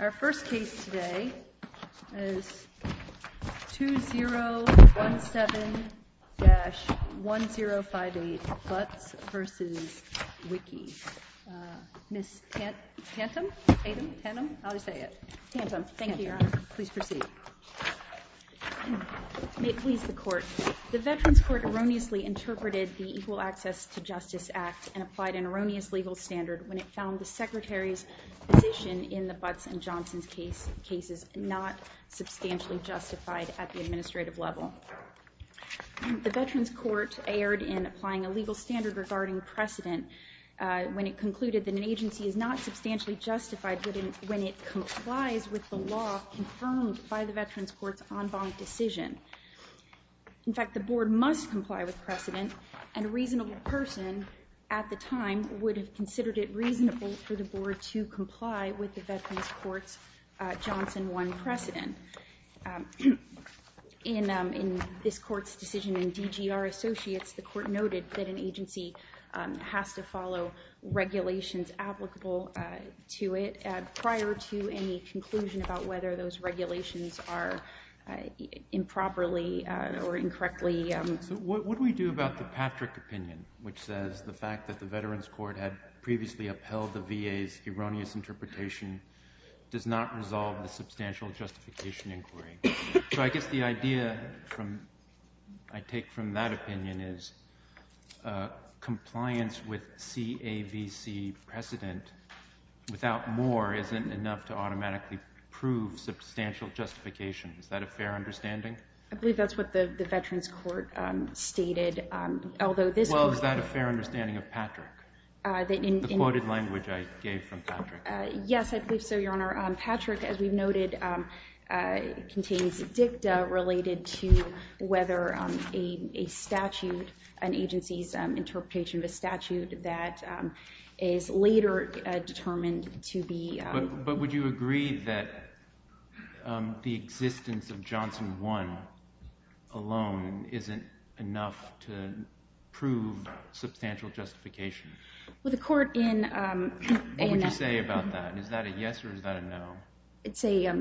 Our first case today is 2017-1058, Butts v. Wilkie. Ms. Tantum? Tatum? Tantum? I'll just say it. Tantum. Thank you, Your Honor. Please proceed. May it please the Court, the Veterans Court erroneously interpreted the Equal Access to position in the Butts v. Johnson cases not substantially justified at the administrative level. The Veterans Court erred in applying a legal standard regarding precedent when it concluded that an agency is not substantially justified when it complies with the law confirmed by the Veterans Court's en banc decision. In fact, the Board must comply with precedent, and a reasonable person at the time would have considered it reasonable for the Board to comply with the Veterans Court's Johnson 1 precedent. In this Court's decision in DGR Associates, the Court noted that an agency has to follow regulations applicable to it prior to any conclusion about whether those regulations are improperly or incorrectly... So what do we do about the Patrick opinion, which says the fact that the Veterans Court had previously upheld the VA's erroneous interpretation does not resolve the substantial justification inquiry? So I guess the idea I take from that opinion is compliance with CAVC precedent without more isn't enough to automatically prove substantial justification. Is that a fair understanding? I believe that's what the Veterans Court stated, although this... Well, is that a fair understanding of Patrick, the quoted language I gave from Patrick? Yes, I believe so, Your Honor. Patrick, as we've noted, contains dicta related to whether a statute, an agency's interpretation of a statute that is later determined to be... Well, the Court in... What would you say about that? Is that a yes or is that a no? It's a...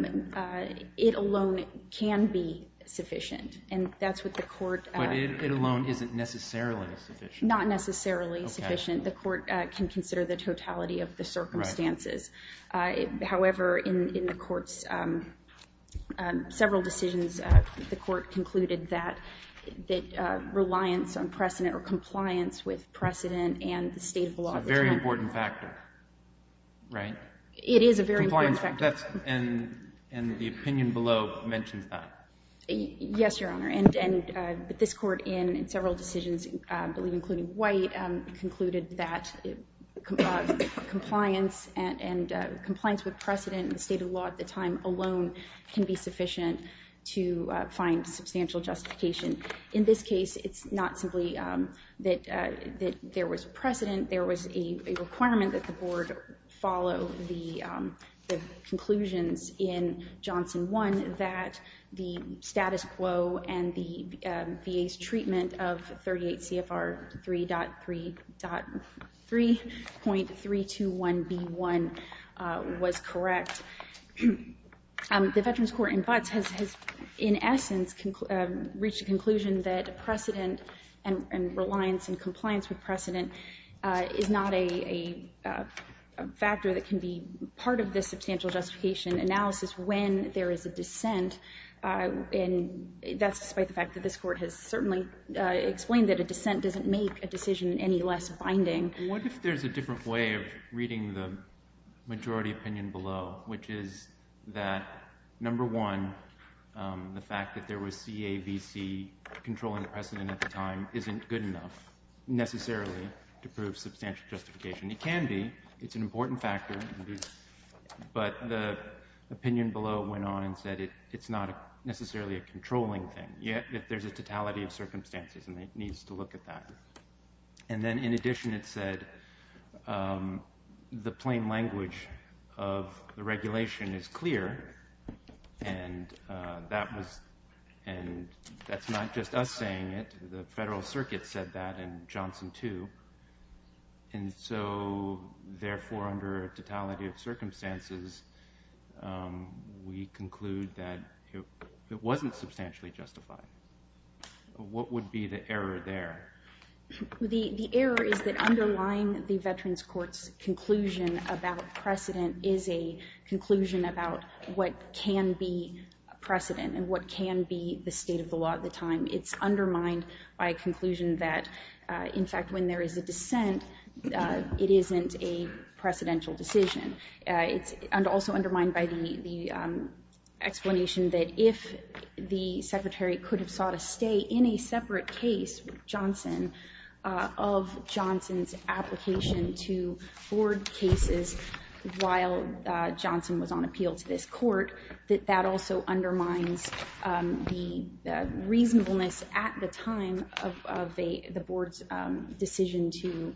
it alone can be sufficient. And that's what the Court... But it alone isn't necessarily sufficient. Not necessarily sufficient. The Court can consider the totality of the circumstances. However, in the Court's several decisions, the Court concluded that reliance on precedent of a statute that is later determined to be... It's a very important factor, right? It is a very important factor. It's a very important factor, right? It is a very important factor. And the opinion below mentions that. Yes, Your Honor. And this Court in several decisions, I believe including White, concluded that compliance with precedent and the state of the law at the time alone can be sufficient to find substantial justification. In this case, it's not simply that there was precedent. There was a requirement that the Board follow the conclusions in Johnson 1 that the status quo and the VA's treatment of 38 CFR 3.3.3.321B1 was correct. The Veterans Court in Butts has, in essence, reached a conclusion that precedent and reliance and compliance with precedent is not a factor that can be part of the substantial justification analysis when there is a dissent. And that's despite the fact that this Court has certainly explained that a dissent doesn't make a decision any less binding. What if there's a different way of reading the majority opinion below, which is that, number one, the fact that there was CAVC controlling the precedent at the time isn't good enough necessarily to prove substantial justification? It can be. It's an important factor. But the opinion below went on and said it's not necessarily a controlling thing, yet there's a totality of circumstances, and it needs to look at that. And then, in addition, it said the plain language of the regulation is clear, and that's not just us saying it. The Federal Circuit said that, and Johnson, too. And so, therefore, under a totality of circumstances, we conclude that it wasn't substantially justified. What would be the error there? The error is that underlying the Veterans Court's conclusion about precedent is a conclusion about what can be precedent and what can be the state of the law at the time. It's undermined by a conclusion that, in fact, when there is a dissent, it isn't a precedential decision. It's also undermined by the explanation that if the Secretary could have sought a stay in a separate case with Johnson of Johnson's application to board cases while Johnson was on appeal to this Court, that that also undermines the reasonableness at the time of the board's decision to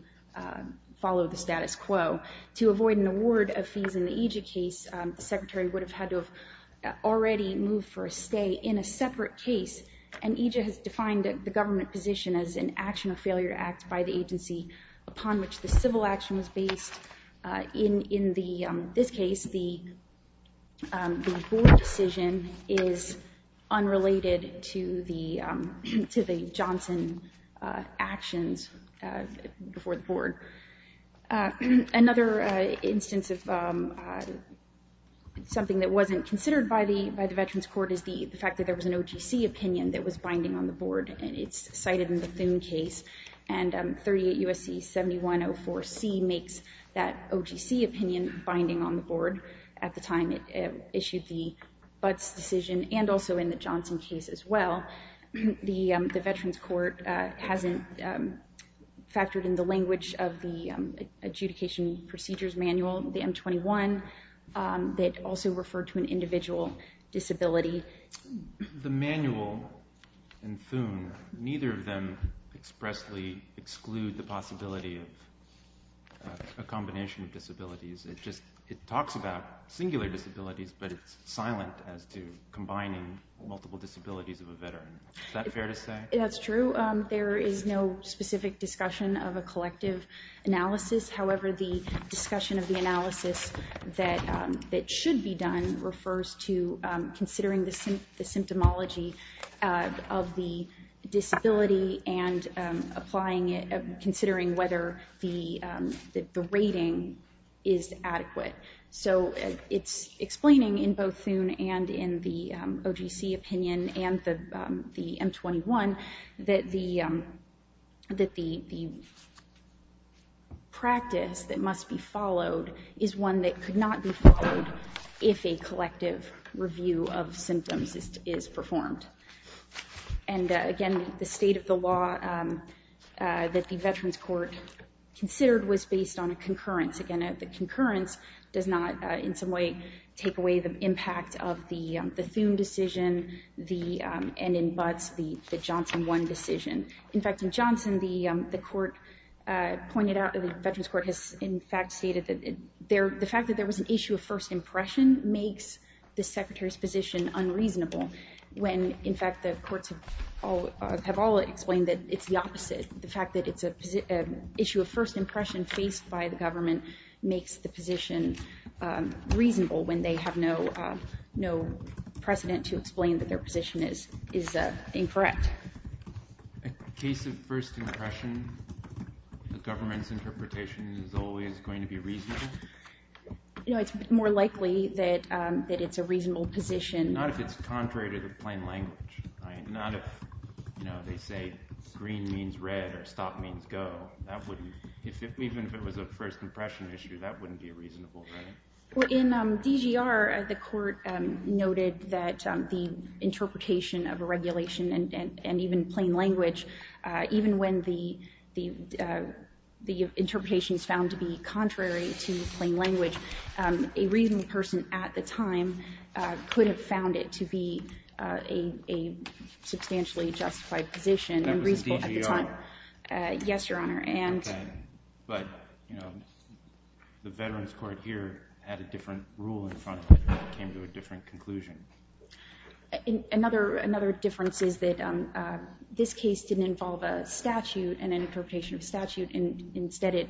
follow the status quo. To avoid an award of fees in the EJIA case, the Secretary would have had to have already moved for a stay in a separate case, and EJIA has defined the government position as an action of failure act by the agency upon which the civil action was based. In this case, the board decision is unrelated to the Johnson actions before the board. Another instance of something that wasn't considered by the Veterans Court is the fact that there was an OGC opinion that was binding on the board. It's cited in the Thune case, and 38 U.S.C. 7104C makes that OGC opinion binding on the board at the time it issued the Butts decision and also in the Johnson case as well. The Veterans Court hasn't factored in the language of the adjudication procedures manual, the M21, that also referred to an individual disability. The manual and Thune, neither of them expressly exclude the possibility of a combination of disabilities. It talks about singular disabilities, but it's silent as to combining multiple disabilities of a veteran. Is that fair to say? That's true. There is no specific discussion of a collective analysis. However, the discussion of the analysis that should be done refers to considering the symptomology of the disability and considering whether the rating is adequate. So it's explaining in both Thune and in the OGC opinion and the M21 that the practice that must be followed is one that could not be followed if a collective review of symptoms is performed. And again, the state of the law that the Veterans Court considered was based on a concurrence. Once again, the concurrence does not in some way take away the impact of the Thune decision and in Butts, the Johnson 1 decision. In fact, in Johnson, the Veterans Court has in fact stated that the fact that there was an issue of first impression makes the Secretary's position unreasonable, when in fact the courts have all explained that it's the opposite, the fact that it's an issue of first impression faced by the government makes the position reasonable when they have no precedent to explain that their position is incorrect. A case of first impression, the government's interpretation is always going to be reasonable? It's more likely that it's a reasonable position. Not if it's contrary to the plain language. Not if they say green means red or stop means go. Even if it was a first impression issue, that wouldn't be reasonable, right? In DGR, the court noted that the interpretation of a regulation and even plain language, even when the interpretation is found to be contrary to plain language, a reasonable person at the time could have found it to be a substantially justified position. That was in DGR? Yes, Your Honor. But the Veterans Court here had a different rule in front of it, came to a different conclusion. Another difference is that this case didn't involve a statute and an interpretation of statute, instead it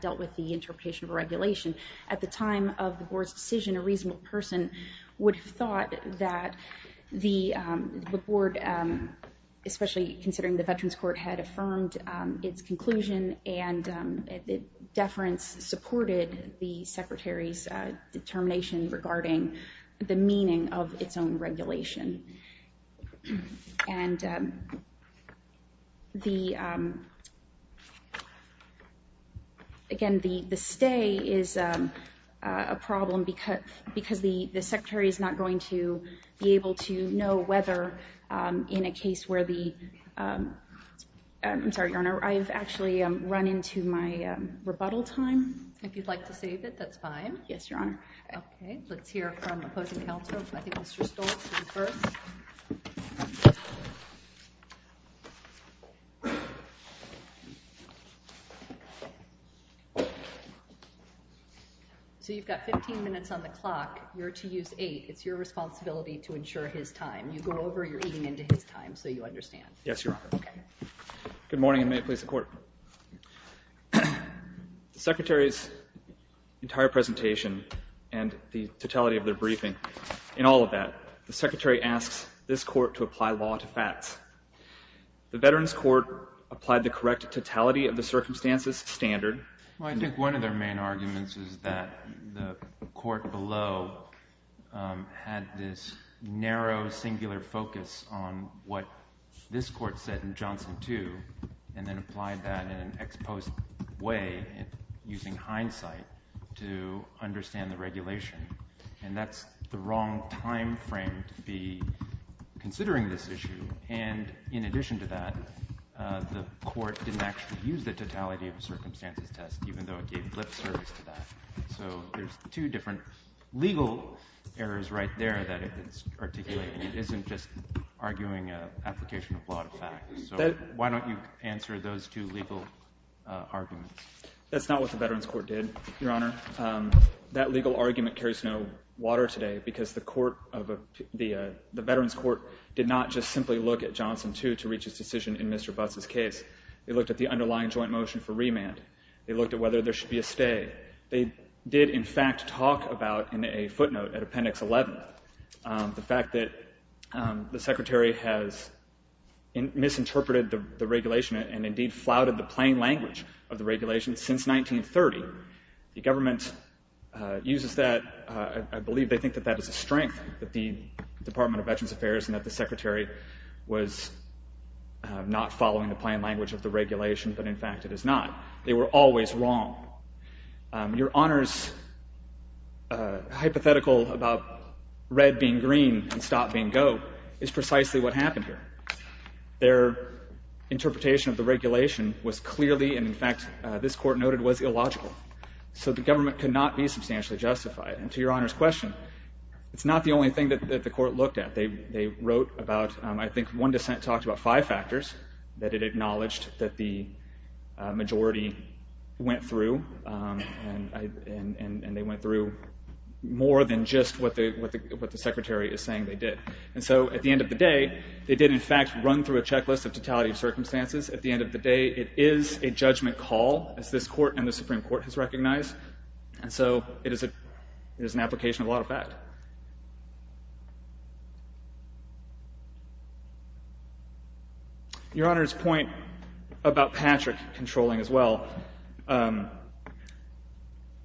dealt with the interpretation of a regulation. At the time of the board's decision, a reasonable person would have thought that the board, especially considering the Veterans Court had affirmed its conclusion and deference supported the Secretary's determination regarding the meaning of its own regulation. Again, the stay is a problem because the Secretary is not going to be able to know whether in a case where the... I'm sorry, Your Honor, I've actually run into my rebuttal time. If you'd like to save it, that's fine. Yes, Your Honor. Okay, let's hear from opposing counsel. I think Mr. Stoltz is first. So you've got 15 minutes on the clock. You're to use eight. It's your responsibility to ensure his time. You go over, you're eating into his time so you understand. Yes, Your Honor. Good morning, and may it please the Court. The Secretary's entire presentation and the totality of their briefing, in all of that, the Secretary asks this court to apply law to facts. The Veterans Court applied the correct totality of the circumstances standard. I think one of their main arguments is that the court below had this narrow singular focus on what this court said in Johnson 2 and then applied that in an exposed way using hindsight to understand the regulation, and that's the wrong time frame to be considering this issue. And in addition to that, the court didn't actually use the totality of the circumstances test, even though it gave blip service to that. So there's two different legal errors right there that it's articulating. It isn't just arguing an application of law to facts. So why don't you answer those two legal arguments? That's not what the Veterans Court did, Your Honor. That legal argument carries no water today because the Veterans Court did not just simply look at Johnson 2 to reach its decision in Mr. Butts' case. They looked at the underlying joint motion for remand. They looked at whether there should be a stay. They did, in fact, talk about in a footnote at Appendix 11 the fact that the Secretary has misinterpreted the regulation and indeed flouted the plain language of the regulation since 1930. The government uses that. I believe they think that that is a strength that the Department of Veterans Affairs and that the Secretary was not following the plain language of the regulation, but in fact it is not. They were always wrong. Your Honor's hypothetical about red being green and stop being go is precisely what happened here. Their interpretation of the regulation was clearly, and in fact this Court noted, was illogical. So the government could not be substantially justified. And to Your Honor's question, it's not the only thing that the Court looked at. They wrote about, I think one dissent talked about five factors that it acknowledged that the majority went through and they went through more than just what the Secretary is saying they did. And so at the end of the day, they did in fact run through a checklist of totality of circumstances. At the end of the day, it is a judgment call, as this Court and the Supreme Court has recognized. And so it is an application of a lot of fact. Your Honor's point about Patrick controlling as well, the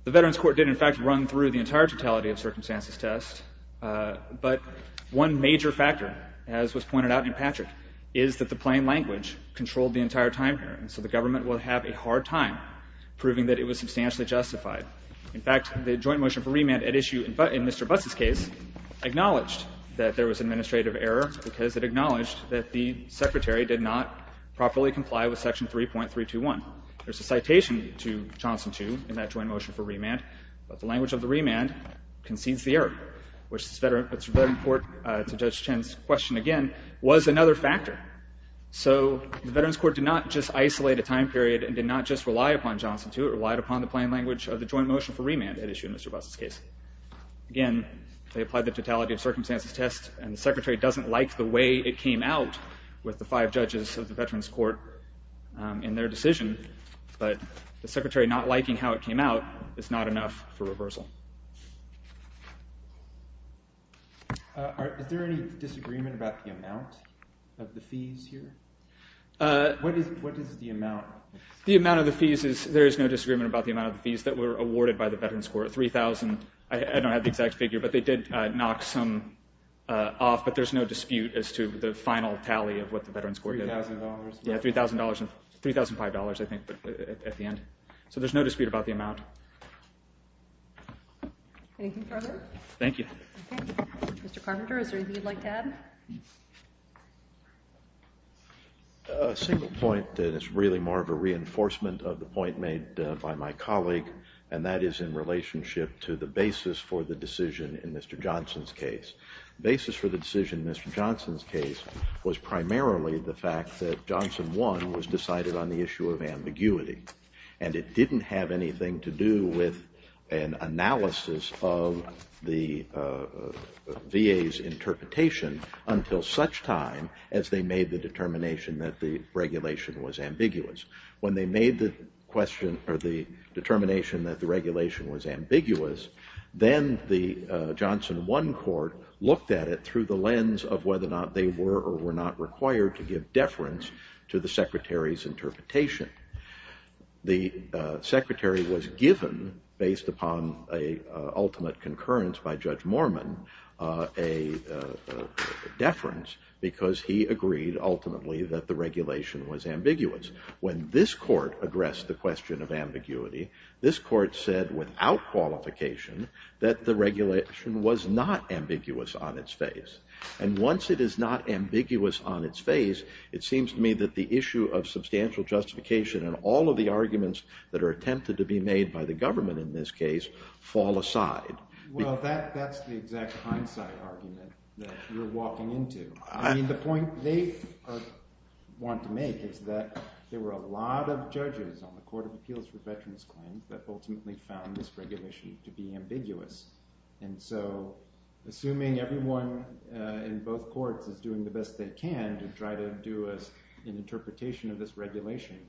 Veterans Court did in fact run through the entire totality of circumstances test, but one major factor, as was pointed out in Patrick, is that the plain language controlled the entire time period. So the government will have a hard time proving that it was substantially justified. In fact, the joint motion for remand at issue in Mr. Butts' case acknowledged that there was administrative error because it acknowledged that the Secretary did not properly comply with section 3.321. There is a citation to Johnson 2 in that joint motion for remand, but the language of the remand concedes the error, which the Veterans Court, to Judge Chen's question again, was another factor. So the Veterans Court did not just isolate a time period and did not just rely upon Johnson 2, it relied upon the plain language of the joint motion for remand at issue in Mr. Butts' case. Again, they applied the totality of circumstances test and the Secretary doesn't like the way it came out with the five judges of the Veterans Court in their decision, but the Secretary not liking how it came out is not enough for reversal. Is there any disagreement about the amount of the fees here? What is the amount? The amount of the fees is, there is no disagreement about the amount of the fees that were awarded by the Veterans Court. I don't have the exact figure, but they did knock some off, but there's no dispute as to the final tally of what the Veterans Court did. $3,000. Yeah, $3,500 I think at the end. So there's no dispute about the amount. Anything further? Thank you. Okay. Mr. Carpenter, is there anything you'd like to add? A single point that is really more of a reinforcement of the point made by my colleague, and that is in relationship to the basis for the decision in Mr. Johnson's case. The basis for the decision in Mr. Johnson's case was primarily the fact that Johnson 1 was decided on the issue of ambiguity, and it didn't have anything to do with an analysis of the VA's interpretation until such time as they made the determination that the regulation was ambiguous. When they made the determination that the regulation was ambiguous, then the Johnson 1 court looked at it through the lens of whether or not they were or were not required to give deference to the Secretary's interpretation. The Secretary was given, based upon an ultimate concurrence by Judge Mormon, a deference because he agreed ultimately that the regulation was ambiguous. When this court addressed the question of ambiguity, this court said without qualification that the regulation was not ambiguous on its face. And once it is not ambiguous on its face, it seems to me that the issue of substantial justification and all of the arguments that are attempted to be made by the government in this case fall aside. Well, that's the exact hindsight argument that you're walking into. I mean, the point they want to make is that there were a lot of judges on the Court of Appeals for Veterans Claims that ultimately found this regulation to be ambiguous. And so assuming everyone in both courts is doing the best they can to try to do an interpretation of this regulation,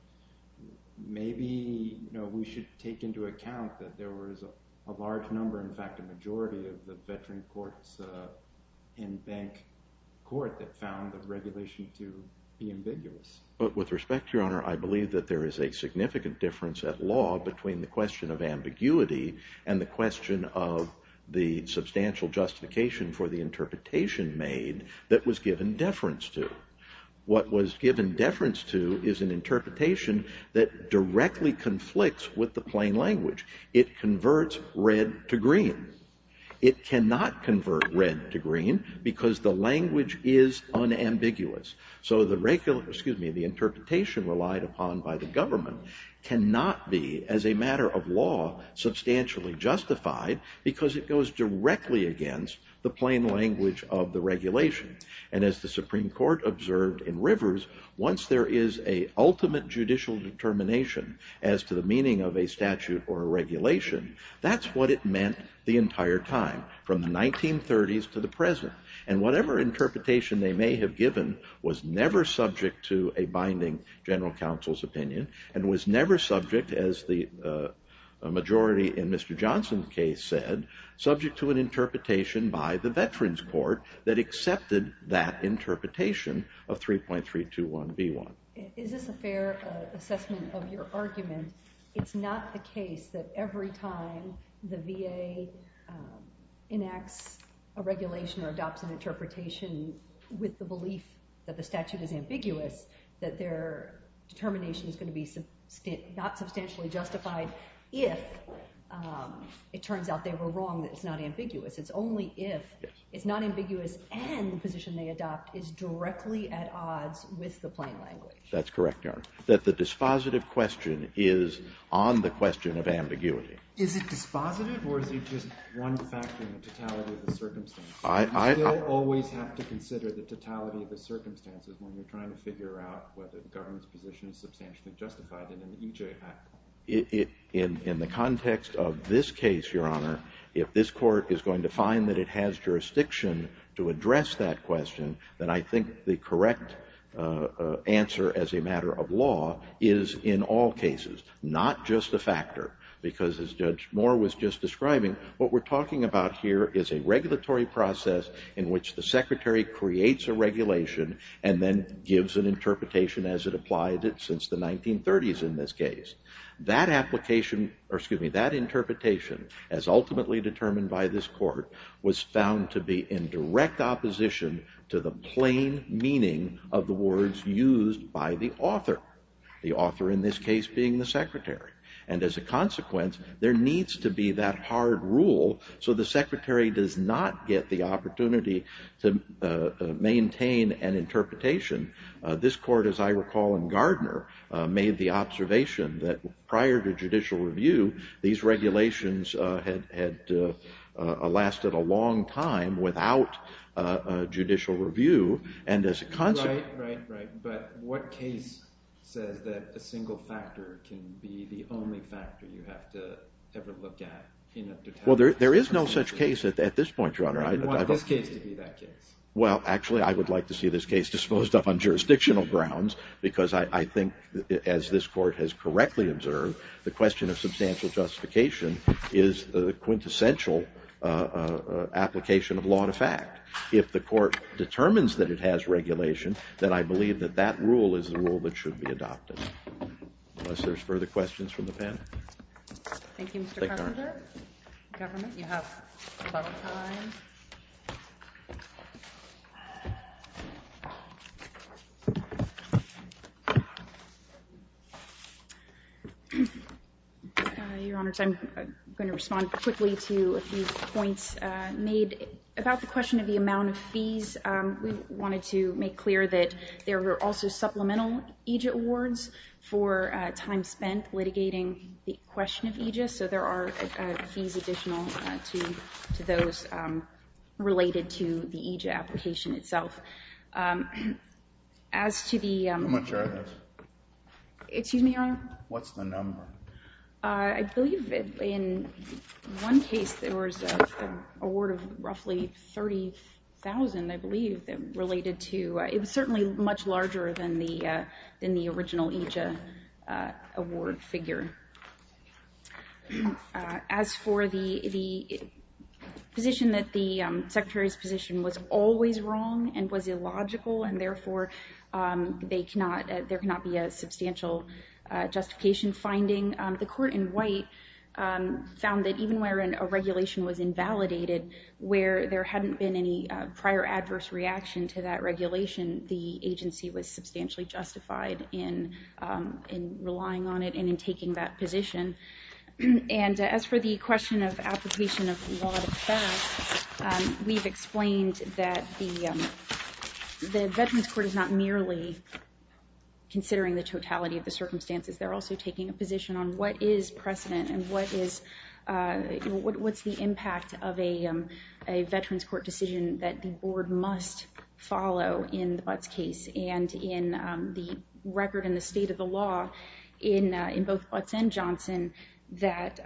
maybe we should take into account that there was a large number, in fact, a majority of the veteran courts and bank court that found the regulation to be ambiguous. But with respect, Your Honor, I believe that there is a significant difference at law between the question of ambiguity and the question of the substantial justification for the interpretation made that was given deference to. What was given deference to is an interpretation that directly conflicts with the plain language. It converts red to green. It cannot convert red to green because the language is unambiguous. So the interpretation relied upon by the government cannot be, as a matter of law, substantially justified because it goes directly against the plain language of the regulation. And as the Supreme Court observed in Rivers, once there is an ultimate judicial determination as to the meaning of a statute or a regulation, that's what it meant the entire time, from the 1930s to the present. And whatever interpretation they may have given was never subject to a binding general counsel's opinion and was never subject, as the majority in Mr. Johnson's case said, subject to an interpretation by the veterans court that accepted that interpretation of 3.321B1. Is this a fair assessment of your argument? It's not the case that every time the VA enacts a regulation or adopts an interpretation with the belief that the statute is ambiguous, that their determination is going to be not substantially justified if it turns out they were wrong, that it's not ambiguous. It's only if it's not ambiguous and the position they adopt is directly at odds with the plain language. That's correct, Your Honor. That the dispositive question is on the question of ambiguity. Is it dispositive or is it just one factor in the totality of the circumstances? You still always have to consider the totality of the circumstances when you're trying to figure out whether the government's position is substantially justified in an EJ act. In the context of this case, Your Honor, if this court is going to find that it has jurisdiction to address that question, then I think the correct answer as a matter of law is in all cases, not just a factor, because as Judge Moore was just describing, what we're talking about here is a regulatory process in which the Secretary creates a regulation and then gives an interpretation as it applied since the 1930s in this case. That interpretation, as ultimately determined by this court, was found to be in direct opposition to the plain meaning of the words used by the author, the author in this case being the Secretary. And as a consequence, there needs to be that hard rule so the Secretary does not get the opportunity to maintain an interpretation. This court, as I recall in Gardner, made the observation that prior to judicial review, these regulations had lasted a long time without judicial review. Right, right, but what case says that a single factor can be the only factor you have to ever look at? Well, there is no such case at this point, Your Honor. I want this case to be that case. Well, actually, I would like to see this case disposed of on jurisdictional grounds because I think, as this court has correctly observed, the question of substantial justification is the quintessential application of law to fact. If the court determines that it has regulation, then I believe that that rule is the rule that should be adopted. Unless there's further questions from the panel. Thank you, Mr. Carpenter. Governor, you have about a time. Your Honor, I'm going to respond quickly to a few points made about the question of the amount of fees. We wanted to make clear that there were also supplemental EJIA awards for time spent litigating the question of EJIA. So there are fees additional to those related to the EJIA application itself. How much are those? Excuse me, Your Honor? What's the number? I believe in one case there was an award of roughly $30,000, I believe, related to it was certainly much larger than the original EJIA award figure. As for the position that the Secretary's position was always wrong and was illogical and therefore there cannot be a substantial justification finding, the court in White found that even where a regulation was invalidated, where there hadn't been any prior adverse reaction to that regulation, the agency was substantially justified in relying on it and in taking that position. And as for the question of application of law to parents, we've explained that the Veterans Court is not merely considering the totality of the circumstances. They're also taking a position on what is precedent and what's the impact of a Veterans Court decision that the board must follow in the Butts case and in the record and the state of the law in both Butts and Johnson that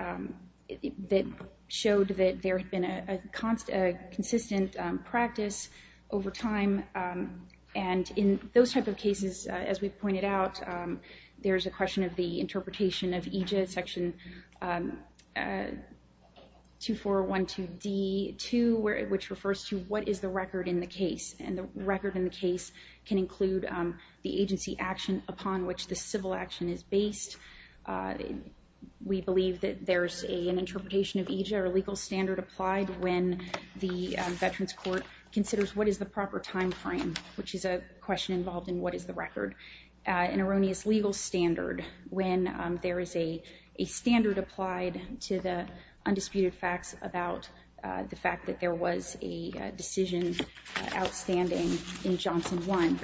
showed that there had been a consistent practice over time. And in those type of cases, as we've pointed out, there's a question of the interpretation of EJIA section 2412D2, which refers to what is the record in the case? And the record in the case can include the agency action upon which the civil action is based. We believe that there's an interpretation of EJIA or legal standard applied when the Veterans Court considers what is the proper time frame, which is a question involved in what is the record, an erroneous legal standard when there is a standard applied to the undisputed facts about the fact that there was a decision outstanding in Johnson 1.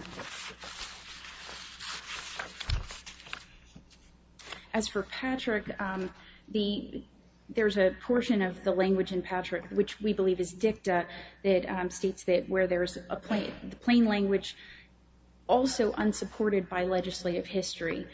As for Patrick, there's a portion of the language in Patrick, which we believe is dicta, that states that where there is a plain language also unsupported by legislative history.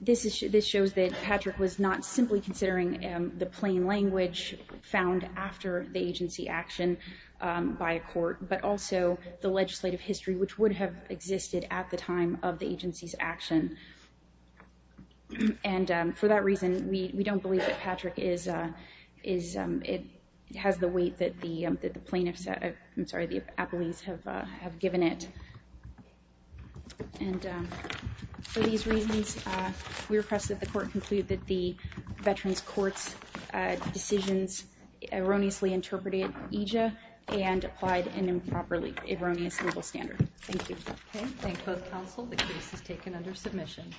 This shows that Patrick was not simply considering the plain language found after the agency action by a court, but also the legislative history, which would have existed at the time of the agency's action. And for that reason, we don't believe that Patrick has the weight that the plaintiffs, I'm sorry, the appellees have given it. And for these reasons, we request that the court conclude that the Veterans Court's decisions erroneously interpreted EJIA and applied an improperly erroneous legal standard. Thank you. Okay. Thank both counsel. The case is taken under submission.